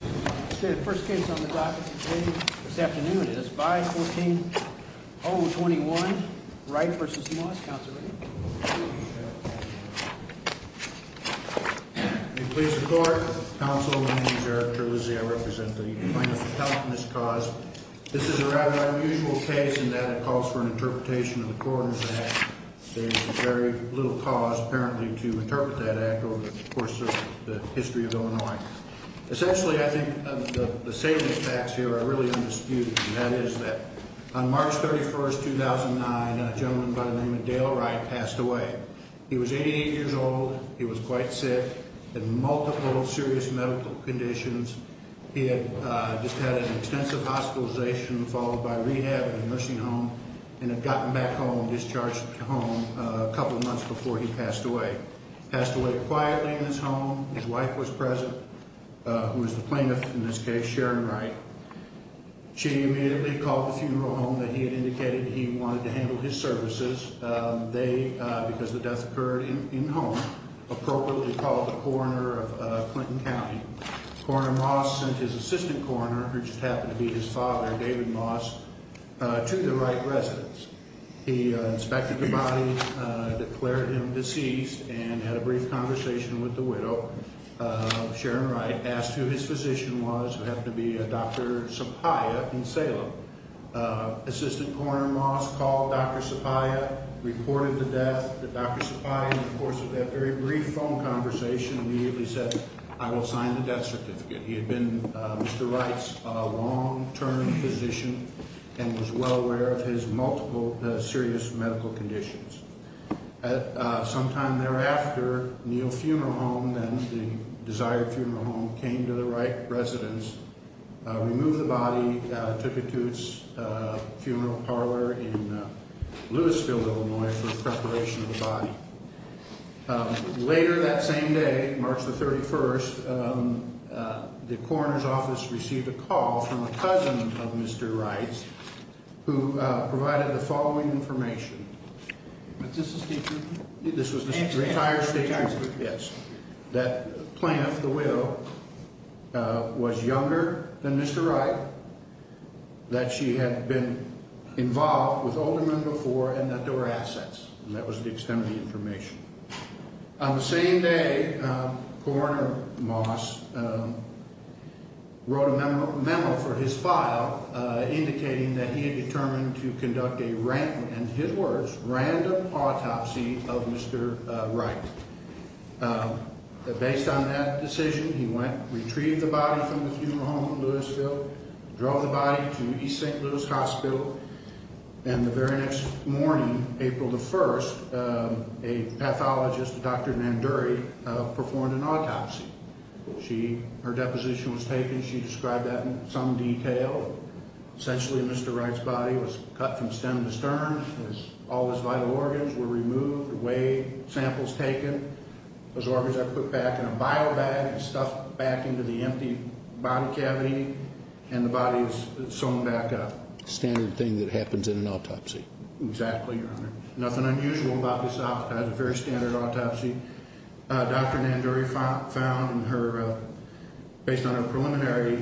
The first case on the docket today, this afternoon, is 5-14-021 Wright v. Moss. Counsel ready? May it please the court. Counsel, my name is Eric Terlizzi. I represent the plaintiff's account in this cause. This is a rather unusual case in that it calls for an interpretation of the Coroner's Act. There is very little cause, apparently, to interpret that act over the course of the history of Illinois. Essentially, I think the salient facts here are really undisputed. And that is that on March 31, 2009, a gentleman by the name of Dale Wright passed away. He was 88 years old. He was quite sick, had multiple serious medical conditions. He had just had an extensive hospitalization, followed by rehab at a nursing home, and had gotten back home, discharged home, a couple of months before he passed away. He passed away quietly in his home. His wife was present, who was the plaintiff in this case, Sharon Wright. She immediately called the funeral home that he had indicated he wanted to handle his services. They, because the death occurred in the home, appropriately called the coroner of Clinton County. Coroner Moss sent his assistant coroner, who just happened to be his father, David Moss, to the Wright residence. He inspected the body, declared him deceased, and had a brief conversation with the widow, Sharon Wright, asked who his physician was, who happened to be Dr. Sapaya in Salem. Assistant coroner Moss called Dr. Sapaya, reported the death. Dr. Sapaya, in the course of that very brief phone conversation, immediately said, I will sign the death certificate. He had been Mr. Wright's long-term physician and was well aware of his multiple serious medical conditions. Sometime thereafter, Neal Funeral Home, then the desired funeral home, came to the Wright residence, removed the body, took it to its funeral parlor in Louisville, Illinois, for preparation of the body. Later that same day, March the 31st, the coroner's office received a call from a cousin of Mr. Wright's, who provided the following information. This was the entire statement. That Plamp, the widow, was younger than Mr. Wright, that she had been involved with older men before, and that there were assets, and that was the extent of the information. On the same day, coroner Moss wrote a memo for his file, indicating that he had determined to conduct a random, in his words, random autopsy of Mr. Wright. Based on that decision, he went, retrieved the body from the funeral home in Louisville, drove the body to East St. Louis Hospital, and the very next morning, April the 1st, a pathologist, Dr. Nanduri, performed an autopsy. Her deposition was taken. She described that in some detail. Essentially, Mr. Wright's body was cut from stem to stern. All his vital organs were removed, away, samples taken. Those organs are put back in a bio bag and stuffed back into the empty body cavity, and the body is sewn back up. Standard thing that happens in an autopsy. Exactly, Your Honor. Nothing unusual about this autopsy. A very standard autopsy. Dr. Nanduri found in her, based on her preliminary,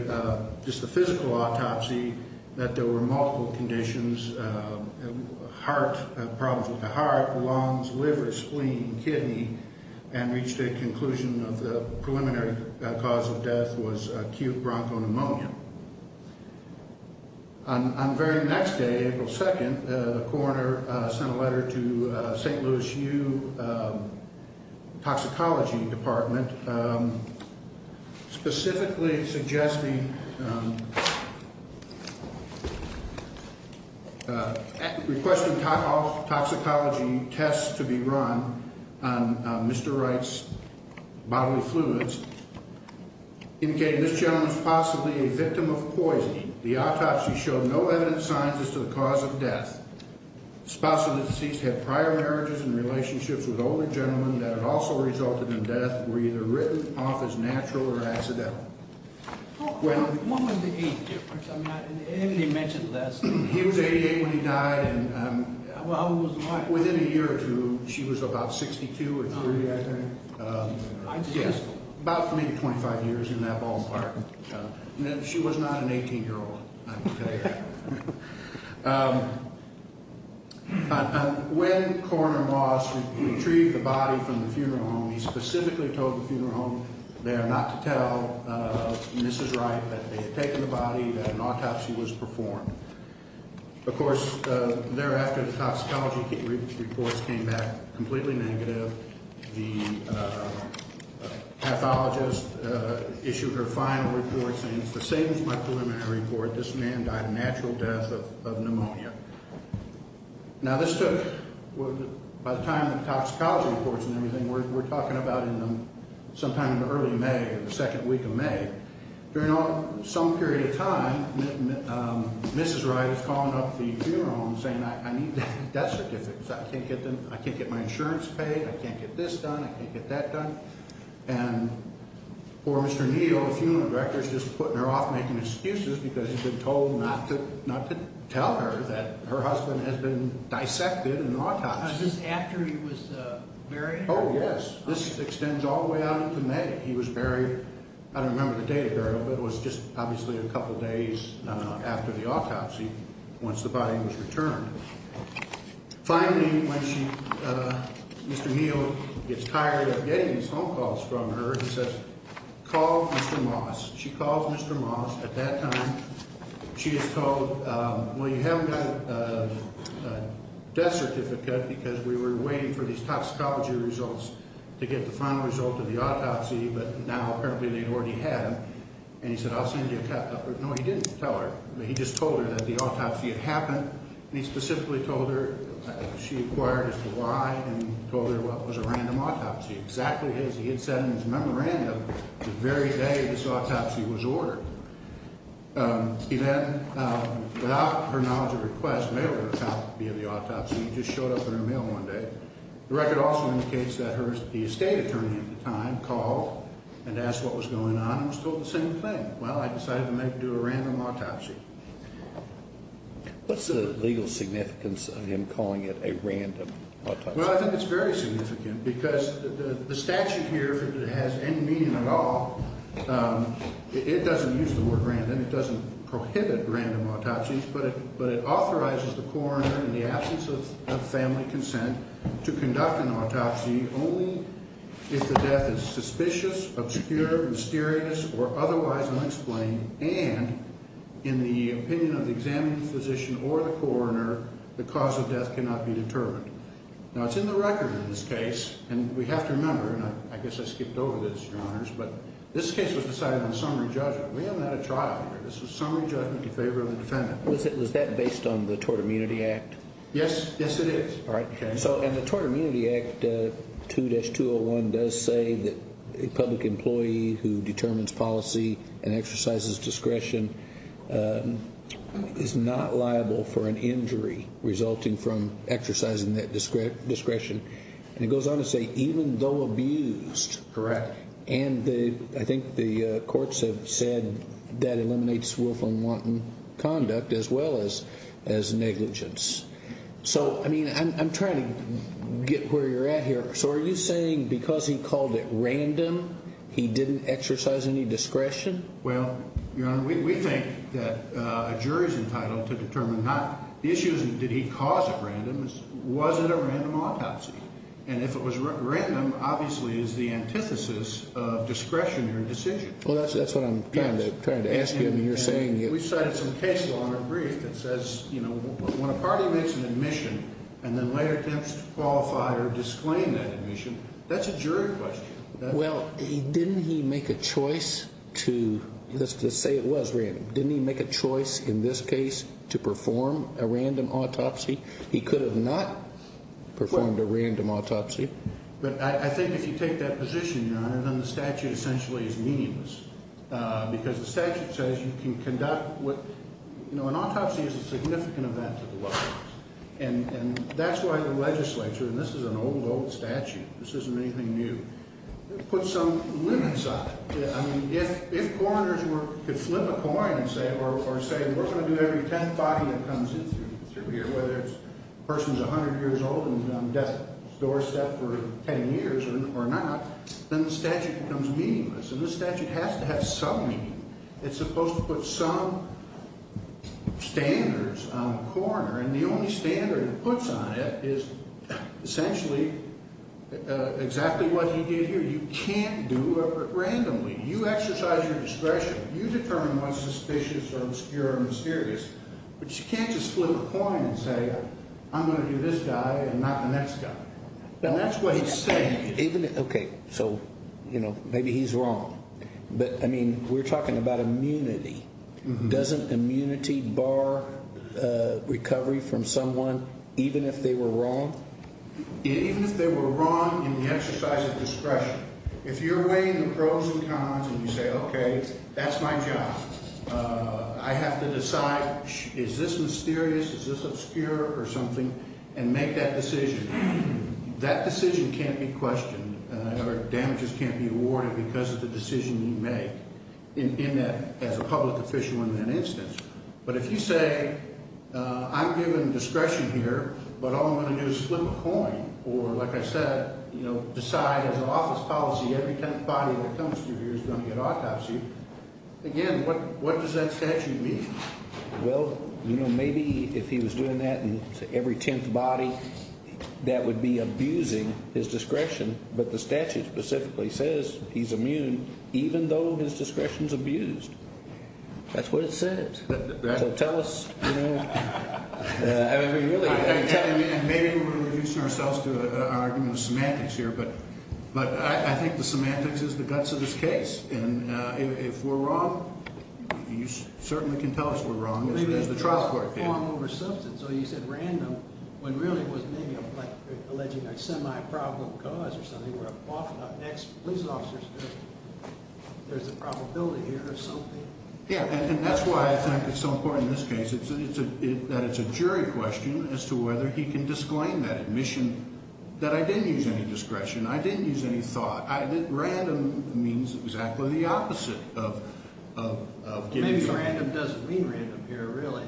just the physical autopsy, that there were multiple conditions, heart, problems with the heart, lungs, liver, spleen, kidney, and reached a conclusion of the preliminary cause of death was acute bronchopneumonia. On the very next day, April 2nd, the coroner sent a letter to St. Louis U. toxicology department, specifically suggesting, requesting toxicology tests to be run on Mr. Wright's bodily fluids, indicating this gentleman was possibly a victim of poison. The autopsy showed no evident signs as to the cause of death. Spouse of the deceased had prior marriages and relationships with older gentlemen that had also resulted in death were either written off as natural or accidental. What was the age difference? I mean, he mentioned last night. He was 88 when he died, and within a year or two, she was about 62 or 63, I think. Yes, about maybe 25 years in that ballpark. She was not an 18-year-old, I can tell you that. When Coroner Moss retrieved the body from the funeral home, he specifically told the funeral home there not to tell Mrs. Wright that they had taken the body, that an autopsy was performed. Of course, thereafter, the toxicology reports came back completely negative. The pathologist issued her final report saying, It's the same as my preliminary report. This man died a natural death of pneumonia. Now, this took, by the time the toxicology reports and everything, we're talking about sometime in the early May, the second week of May. During some period of time, Mrs. Wright is calling up the funeral home saying, I need death certificates. I can't get my insurance paid. I can't get this done. I can't get that done. And poor Mr. Neal, the funeral director, is just putting her off making excuses because he's been told not to tell her that her husband has been dissected in an autopsy. Just after he was buried? Oh, yes. This extends all the way out into May. He was buried, I don't remember the date of burial, but it was just obviously a couple days after the autopsy once the body was returned. Finally, when Mr. Neal gets tired of getting his phone calls from her, he says, Call Mr. Moss. She calls Mr. Moss. At that time, she is told, Well, you haven't got a death certificate because we were waiting for these toxicology results to get the final result of the autopsy, but now apparently they've already had them. And he said, I'll send you a copy. No, he didn't tell her. He just told her that the autopsy had happened. He specifically told her she inquired as to why and told her what was a random autopsy. Exactly as he had said in his memorandum the very day this autopsy was ordered. He then, without her knowledge of request, mailed her a copy of the autopsy. It just showed up in her mail one day. The record also indicates that the estate attorney at the time called and asked what was going on and was told the same thing. Well, I decided to do a random autopsy. What's the legal significance of him calling it a random autopsy? Well, I think it's very significant because the statute here has any meaning at all. It doesn't use the word random. It doesn't prohibit random autopsies, but it authorizes the coroner in the absence of family consent to conduct an autopsy only if the death is suspicious, obscure, mysterious, or otherwise unexplained and in the opinion of the examined physician or the coroner, the cause of death cannot be determined. Now, it's in the record in this case, and we have to remember, and I guess I skipped over this, Your Honors, but this case was decided on summary judgment. We haven't had a trial here. This was summary judgment in favor of the defendant. Was that based on the Tort Immunity Act? Yes, yes it is. All right. And it goes on to say, even though abused. Correct. And I think the courts have said that eliminates willful and wanton conduct as well as negligence. So, I mean, I'm trying to get where you're at here. So are you saying because he called it random, he didn't exercise any discretion? Well, Your Honor, we think that a jury is entitled to determine how. The issue isn't did he cause it random. It's was it a random autopsy. And if it was random, obviously it's the antithesis of discretionary decision. Well, that's what I'm trying to ask you and you're saying. We cited some case law in our brief that says, you know, when a party makes an admission and then later attempts to qualify or disclaim that admission, that's a jury question. Well, didn't he make a choice to say it was random? Didn't he make a choice in this case to perform a random autopsy? He could have not performed a random autopsy. But I think if you take that position, Your Honor, then the statute essentially is meaningless. Because the statute says you can conduct what, you know, an autopsy is a significant event to the law. And that's why the legislature, and this is an old, old statute. This isn't anything new. It puts some limits on it. I mean, if coroners were to flip a coin and say, or say we're going to do every 10th body that comes in through here, whether it's a person who's 100 years old and on death's doorstep for 10 years or not, then the statute becomes meaningless. And the statute has to have some meaning. It's supposed to put some standards on a coroner. And the only standard it puts on it is essentially exactly what he did here. You can't do it randomly. You exercise your discretion. You determine what's suspicious or obscure or mysterious. But you can't just flip a coin and say I'm going to do this guy and not the next guy. And that's what he's saying. Okay. So, you know, maybe he's wrong. But, I mean, we're talking about immunity. Doesn't immunity bar recovery from someone even if they were wrong? Even if they were wrong in the exercise of discretion. If you're weighing the pros and cons and you say, okay, that's my job. I have to decide is this mysterious, is this obscure or something, and make that decision, that decision can't be questioned or damages can't be awarded because of the decision you make. In that, as a public official in that instance. But if you say I'm given discretion here, but all I'm going to do is flip a coin, or like I said, you know, decide as an office policy every tenth body that comes through here is going to get autopsy, again, what does that statute mean? Well, you know, maybe if he was doing that to every tenth body, that would be abusing his discretion. But the statute specifically says he's immune even though his discretion is abused. That's what it says. So tell us, you know, I mean, really. Maybe we're reducing ourselves to an argument of semantics here. But I think the semantics is the guts of this case. And if we're wrong, you certainly can tell us we're wrong. So you said random when really it was maybe like alleging a semi-probable cause or something, where an ex-police officer is good. There's a probability here of something. Yeah, and that's why I think at some point in this case that it's a jury question as to whether he can disclaim that admission, that I didn't use any discretion, I didn't use any thought. Random means exactly the opposite of giving. Maybe random doesn't mean random here really.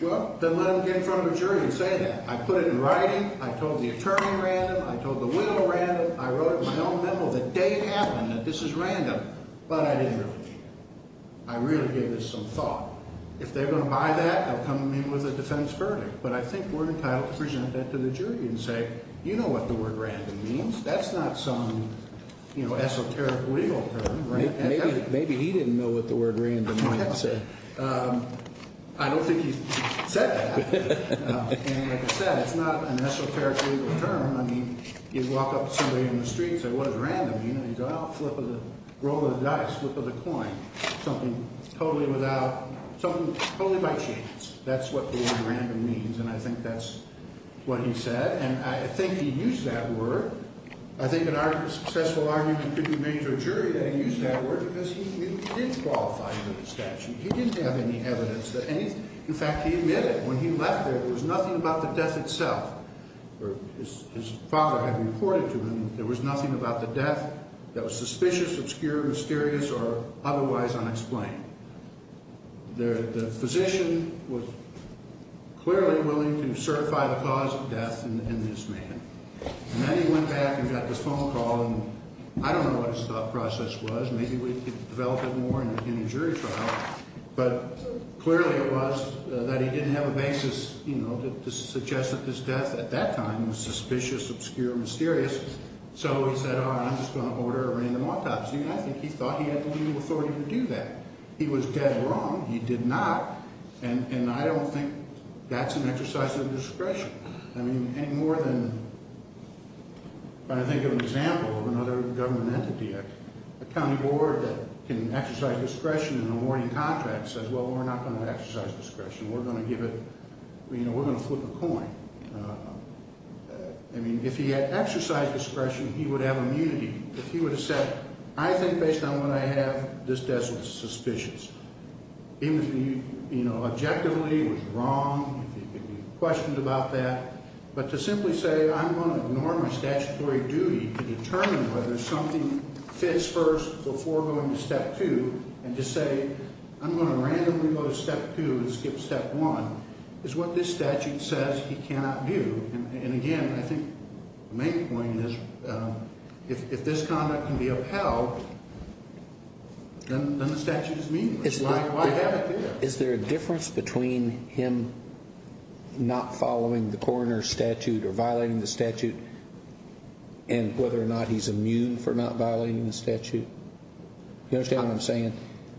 Well, then let him get in front of a jury and say that. I put it in writing. I told the attorney random. I told the widow random. I wrote it in my own memo the day it happened that this is random. But I didn't really. I really gave this some thought. If they're going to buy that, they'll come to me with a defense verdict. But I think we're entitled to present that to the jury and say, you know what the word random means. That's not some, you know, esoteric legal term. Maybe he didn't know what the word random might have said. I don't think he said that. And like I said, it's not an esoteric legal term. I mean, you walk up to somebody in the street and say, what does random mean? And they go, well, flip of the roll of the dice, flip of the coin, something totally without, something totally by chance. That's what the word random means. And I think that's what he said. And I think he used that word. I think a successful argument could be made to a jury that he used that word because he didn't qualify for the statute. He didn't have any evidence. In fact, he admitted when he left there, there was nothing about the death itself. His father had reported to him there was nothing about the death that was suspicious, obscure, mysterious, or otherwise unexplained. The physician was clearly willing to certify the cause of death in this man. And then he went back and got this phone call, and I don't know what his thought process was. Maybe it developed more in a jury trial. But clearly it was that he didn't have a basis, you know, to suggest that this death at that time was suspicious, obscure, mysterious. So he said, all right, I'm just going to order a random autopsy. And I think he thought he had the legal authority to do that. He was dead wrong. He did not. And I don't think that's an exercise of discretion. I mean, any more than trying to think of an example of another government entity. A county board that can exercise discretion in awarding contracts says, well, we're not going to exercise discretion. We're going to give it, you know, we're going to flip a coin. I mean, if he had exercised discretion, he would have immunity. If he would have said, I think based on what I have, this death was suspicious. Even if he, you know, objectively was wrong, if he could be questioned about that. But to simply say, I'm going to ignore my statutory duty to determine whether something fits first before going to step two. And to say, I'm going to randomly go to step two and skip step one is what this statute says he cannot do. And, again, I think the main point is if this conduct can be upheld, then the statute is meaningless. Why have it there? Is there a difference between him not following the coroner's statute or violating the statute and whether or not he's immune for not violating the statute? You understand what I'm saying?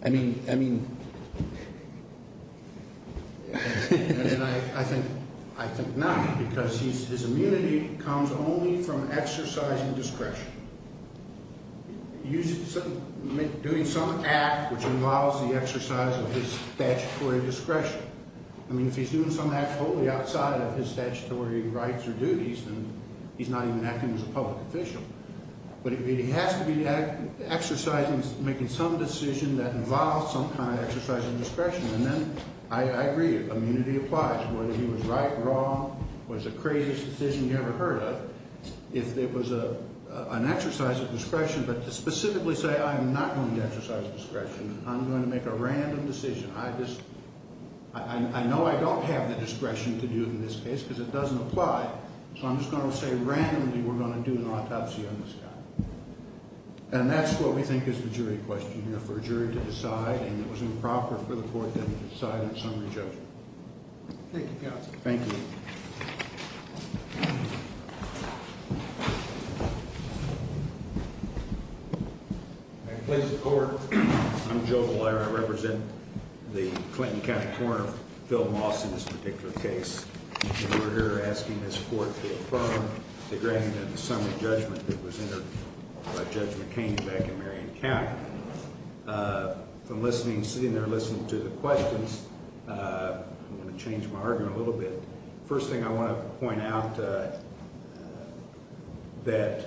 I mean, I mean. I think not, because his immunity comes only from exercising discretion. Doing some act which involves the exercise of his statutory discretion. I mean, if he's doing some act totally outside of his statutory rights or duties, then he's not even acting as a public official. But he has to be exercising, making some decision that involves some kind of exercise of discretion. And then I agree, immunity applies. Whether he was right, wrong, was the craziest decision you ever heard of. If it was an exercise of discretion, but to specifically say, I'm not going to exercise discretion. I'm going to make a random decision. I just, I know I don't have the discretion to do it in this case because it doesn't apply. So I'm just going to say randomly we're going to do an autopsy on this guy. And that's what we think is the jury question here, for a jury to decide. And it was improper for the court to decide on summary judgment. Thank you, counsel. Thank you. Thank you. I'm Joe Golier. I represent the Clinton County Court of Phil Moss in this particular case. And we're here asking this court to affirm the grand and summary judgment that was entered by Judge McCain back in Marion County. From listening, sitting there listening to the questions, I'm going to change my argument a little bit. First thing I want to point out that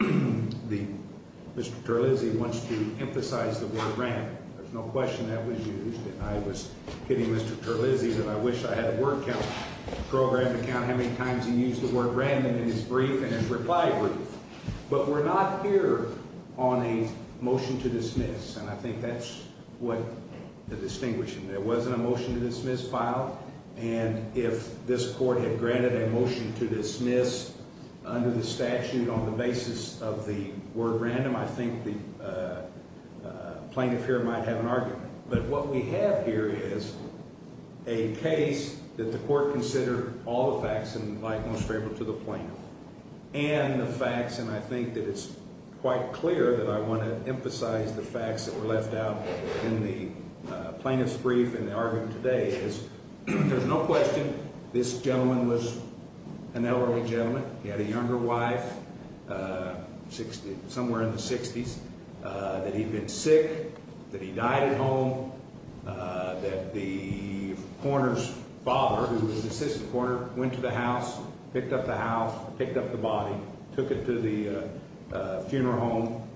Mr. Terlizzi wants to emphasize the word random. There's no question that was used. And I was kidding Mr. Terlizzi that I wish I had a word count program to count how many times he used the word random in his brief and his reply brief. But we're not here on a motion to dismiss. And I think that's what the distinguishing. There wasn't a motion to dismiss file. And if this court had granted a motion to dismiss under the statute on the basis of the word random, I think the plaintiff here might have an argument. But what we have here is a case that the court considered all the facts and like most people to the plaintiff. And the facts, and I think that it's quite clear that I want to emphasize the facts that were left out in the plaintiff's brief and the argument today is there's no question this gentleman was an elderly gentleman. He had a younger wife, somewhere in the 60s, that he'd been sick, that he died at home, that the coroner's father, who was an assistant coroner, went to the house, picked up the house, picked up the body, took it to the funeral home.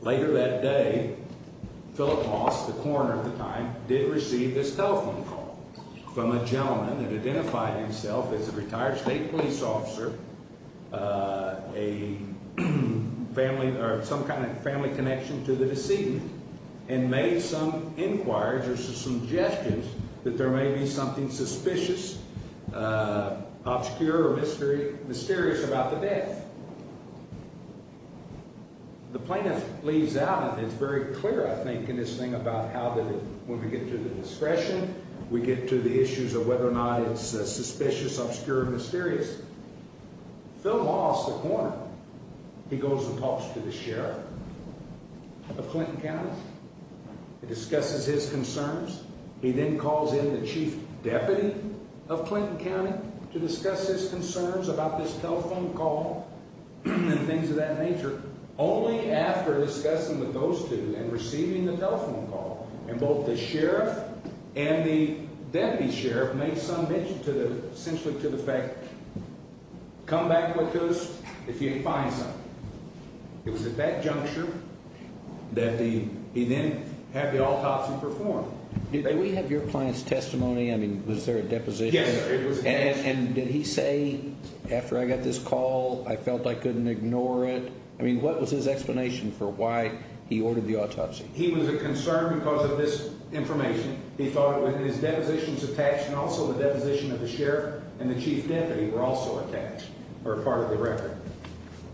Later that day, Philip Moss, the coroner at the time, did receive this telephone call from a gentleman that identified himself as a retired state police officer, a family or some kind of family connection to the decedent, and made some inquiries or some suggestions that there may be something suspicious, obscure or mysterious about the death. The plaintiff leaves out, and it's very clear, I think, in this thing about how when we get to the discretion, we get to the issues of whether or not it's suspicious, obscure or mysterious. Philip Moss, the coroner, he goes and talks to the sheriff of Clinton County. He discusses his concerns. He then calls in the chief deputy of Clinton County to discuss his concerns about this telephone call and things of that nature. Only after discussing with those two and receiving the telephone call, and both the sheriff and the deputy sheriff made some mention, essentially, to the fact, come back with us if you find something. It was at that juncture that he then had the autopsy performed. Did we have your client's testimony? I mean, was there a deposition? Yes, sir. It was a deposition. And did he say, after I got this call, I felt I couldn't ignore it? I mean, what was his explanation for why he ordered the autopsy? He was concerned because of this information. He thought his depositions attached and also the deposition of the sheriff and the chief deputy were also attached or part of the record.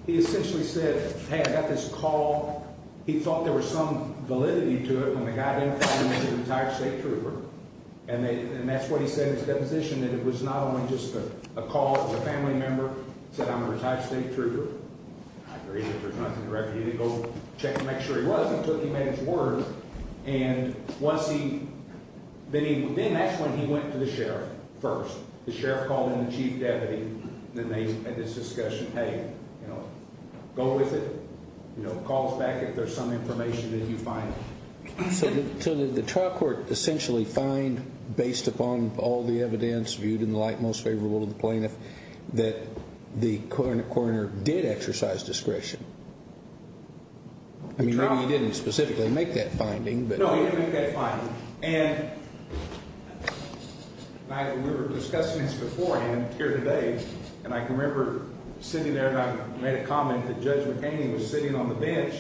He essentially said, hey, I got this call. He thought there was some validity to it when the guy didn't call him a retired state trooper. And that's what he said in his deposition, that it was not only just a call. It was a family member who said, I'm a retired state trooper. I agree that there's nothing for you to go check and make sure he was. He took him at his word. And then that's when he went to the sheriff first. The sheriff called him the chief deputy. Then they had this discussion, hey, go with it. Call us back if there's some information that you find. So did the trial court essentially find, based upon all the evidence viewed in the light most favorable to the plaintiff, that the coroner did exercise discretion? I mean, he didn't specifically make that finding, but no, he didn't make that finding. And we were discussing this beforehand here today. And I can remember sitting there and I made a comment that Judge McCain was sitting on the bench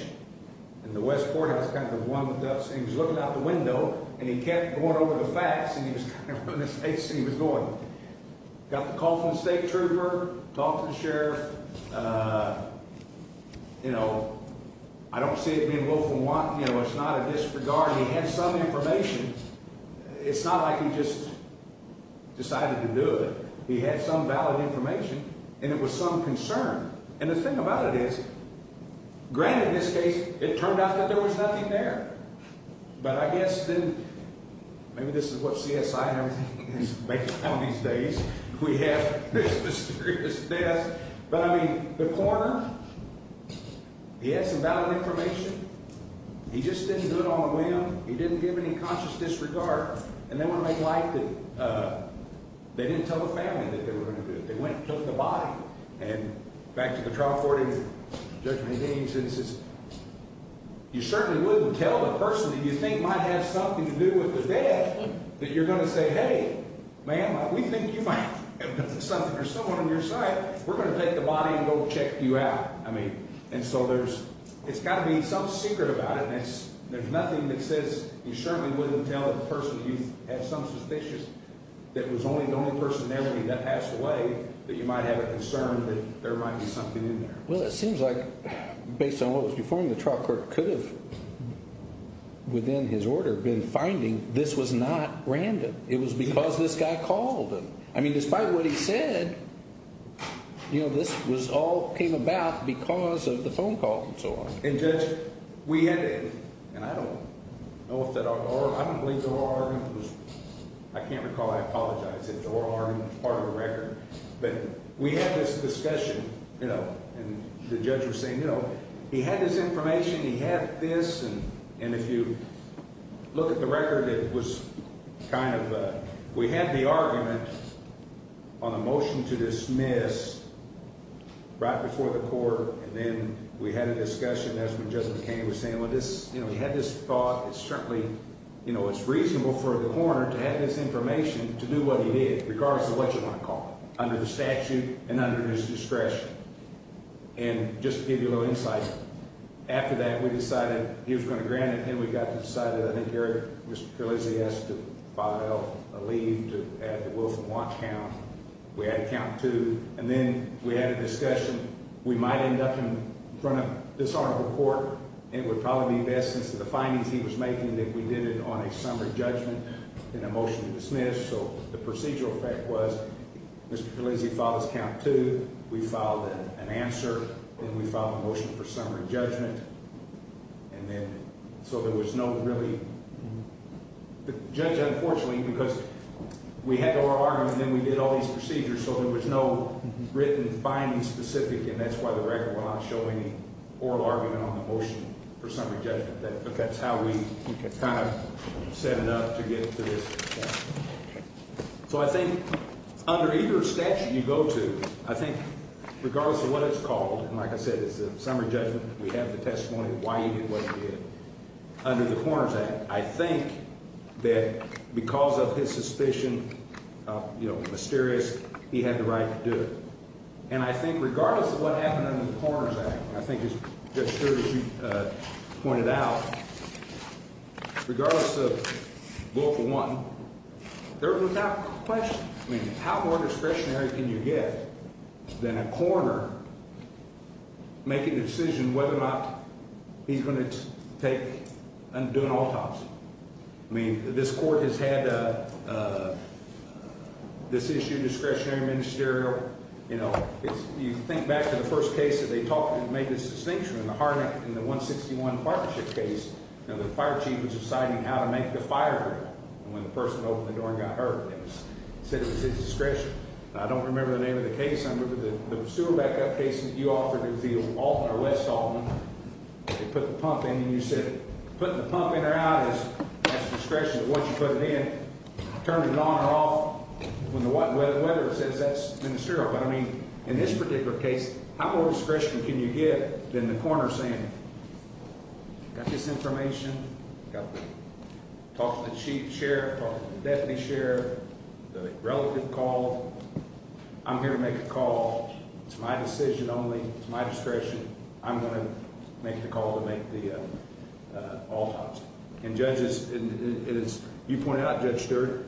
and the Westport has kind of warmed up. He was looking out the window and he kept going over the facts. He was going, got the call from the state trooper, talked to the sheriff. You know, I don't see it being willful wanton. You know, it's not a disregard. He had some information. It's not like he just decided to do it. He had some valid information and it was some concern. And the thing about it is, granted, in this case, it turned out that there was nothing there. But I guess then, maybe this is what CSI is making fun of these days. We have this mysterious death. But I mean, the coroner, he had some valid information. He just didn't do it on a whim. He didn't give any conscious disregard. And they want to make light that they didn't tell the family that they were going to do it. They went and took the body. And back to the trial court, you certainly wouldn't tell the person that you think might have something to do with the death. That you're going to say, hey, ma'am, we think you might have something or someone on your side. We're going to take the body and go check you out. I mean, and so there's, it's got to be some secret about it. And it's, there's nothing that says you certainly wouldn't tell the person. So if you have some suspicious that was only the only person there when he passed away, that you might have a concern that there might be something in there. Well, it seems like, based on what was before him, the trial court could have, within his order, been finding this was not random. It was because this guy called him. I mean, despite what he said, you know, this all came about because of the phone call and so on. And Judge, we had, and I don't know if that, I don't believe the oral argument was, I can't recall. I apologize if the oral argument was part of the record. But we had this discussion, you know, and the judge was saying, you know, he had this information, he had this. And if you look at the record, it was kind of, we had the argument on a motion to dismiss right before the court. And then we had a discussion. That's when Judge McCain was saying, well, this, you know, he had this thought. It's certainly, you know, it's reasonable for the coroner to have this information to do what he did, regardless of what you want to call it, under the statute and under his discretion. And just to give you a little insight, after that, we decided he was going to grant it. And we got to the side of it. I think Gary, Mr. Kerlizzi, asked to file a leave to add the Wolf and Watch count. We added count two. And then we had a discussion. We might end up in front of this honorable court, and it would probably be best since the findings he was making that we did it on a summary judgment and a motion to dismiss. So the procedural fact was Mr. Kerlizzi filed his count two. We filed an answer. Then we filed a motion for summary judgment. And then so there was no really – the judge, unfortunately, because we had the oral argument and then we did all these procedures, so there was no written findings specific. And that's why the record will not show any oral argument on the motion for summary judgment. That's how we kind of set it up to get to this. So I think under either statute you go to, I think regardless of what it's called, and like I said, it's a summary judgment. We have the testimony of why he did what he did. Under the Coroner's Act, I think that because of his suspicion of mysterious, he had the right to do it. And I think regardless of what happened under the Coroner's Act, I think it's just as you pointed out, regardless of rule for one, there was no question. I mean how more discretionary can you get than a coroner making a decision whether or not he's going to take and do an autopsy? I mean this court has had this issue, discretionary, ministerial. You know, you think back to the first case that they talked – made this distinction in the 161 partnership case. You know, the fire chief was deciding how to make the fire go out. And when the person opened the door and got hurt, it was – said it was his discretion. I don't remember the name of the case. I remember the sewer backup case that you offered to the West Altman. They put the pump in and you said putting the pump in or out is at the discretion of what you put it in. Turned it on or off when the weather says that's ministerial. But I mean in this particular case, how more discretion can you get than the coroner saying got this information, talked to the chief sheriff, talked to the deputy sheriff, the relative called. I'm here to make a call. It's my decision only. It's my discretion. I'm going to make the call to make the autopsy. And judges, as you pointed out, Judge Stewart,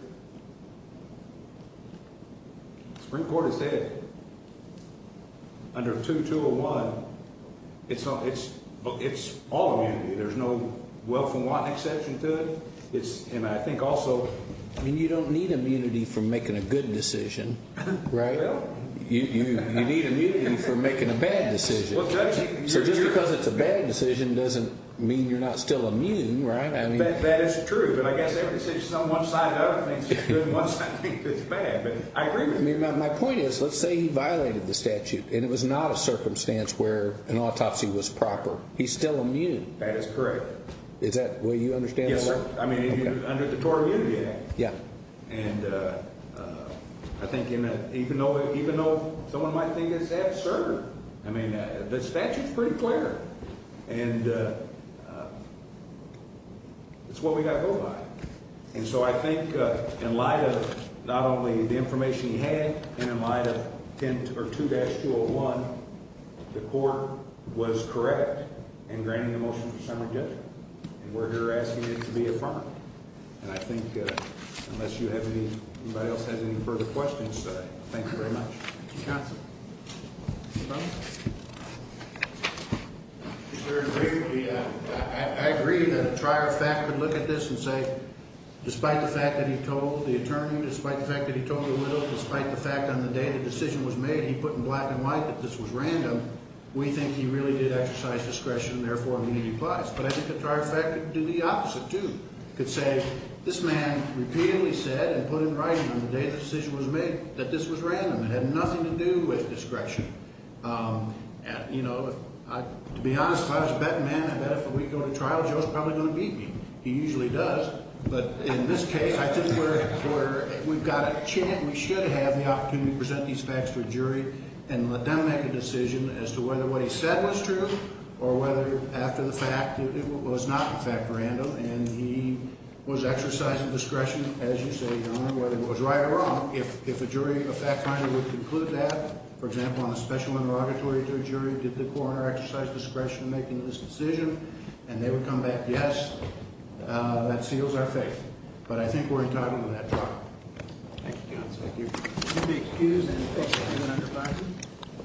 the Supreme Court has said under 2201, it's all immunity. There's no wealth and want exception to it. It's – and I think also – I mean you don't need immunity for making a good decision, right? Well – You need immunity for making a bad decision. So just because it's a bad decision doesn't mean you're not still immune, right? That is true. But I guess every decision on one side of the thing is good and one side of the thing is bad. But I agree with you. My point is let's say he violated the statute and it was not a circumstance where an autopsy was proper. He's still immune. That is correct. Is that the way you understand it? Yes, sir. I mean under the Tort Immunity Act. Yeah. And I think even though someone might think it's absurd, I mean the statute is pretty clear. And it's what we got to go by. And so I think in light of not only the information he had and in light of 2-201, the court was correct in granting the motion for summary judgment. And we're here asking it to be affirmed. And I think unless anybody else has any further questions today, thank you very much. Counsel. Mr. Baumann. I agree that a trier fact would look at this and say despite the fact that he told the attorney, despite the fact that he told the widow, despite the fact on the day the decision was made, he put in black and white that this was random, we think he really did exercise discretion and therefore immunity applies. But I think a trier fact could do the opposite too. It could say this man repeatedly said and put in writing on the day the decision was made that this was random. It had nothing to do with discretion. You know, to be honest, if I was a betting man, I bet if we go to trial, Joe's probably going to beat me. He usually does. But in this case, I think we're at a point where we've got a chance, we should have the opportunity to present these facts to a jury and let them make a decision as to whether what he said was true or whether after the fact it was not in fact random and he was exercising discretion, as you say, Your Honor, whether it was right or wrong. If a jury, a fact finder, would conclude that, for example, on a special interrogatory to a jury, did the coroner exercise discretion in making this decision, and they would come back yes, that seals our faith. But I think we're entitled to that trial. Thank you, counsel. Thank you. Would you be excused? Thank you.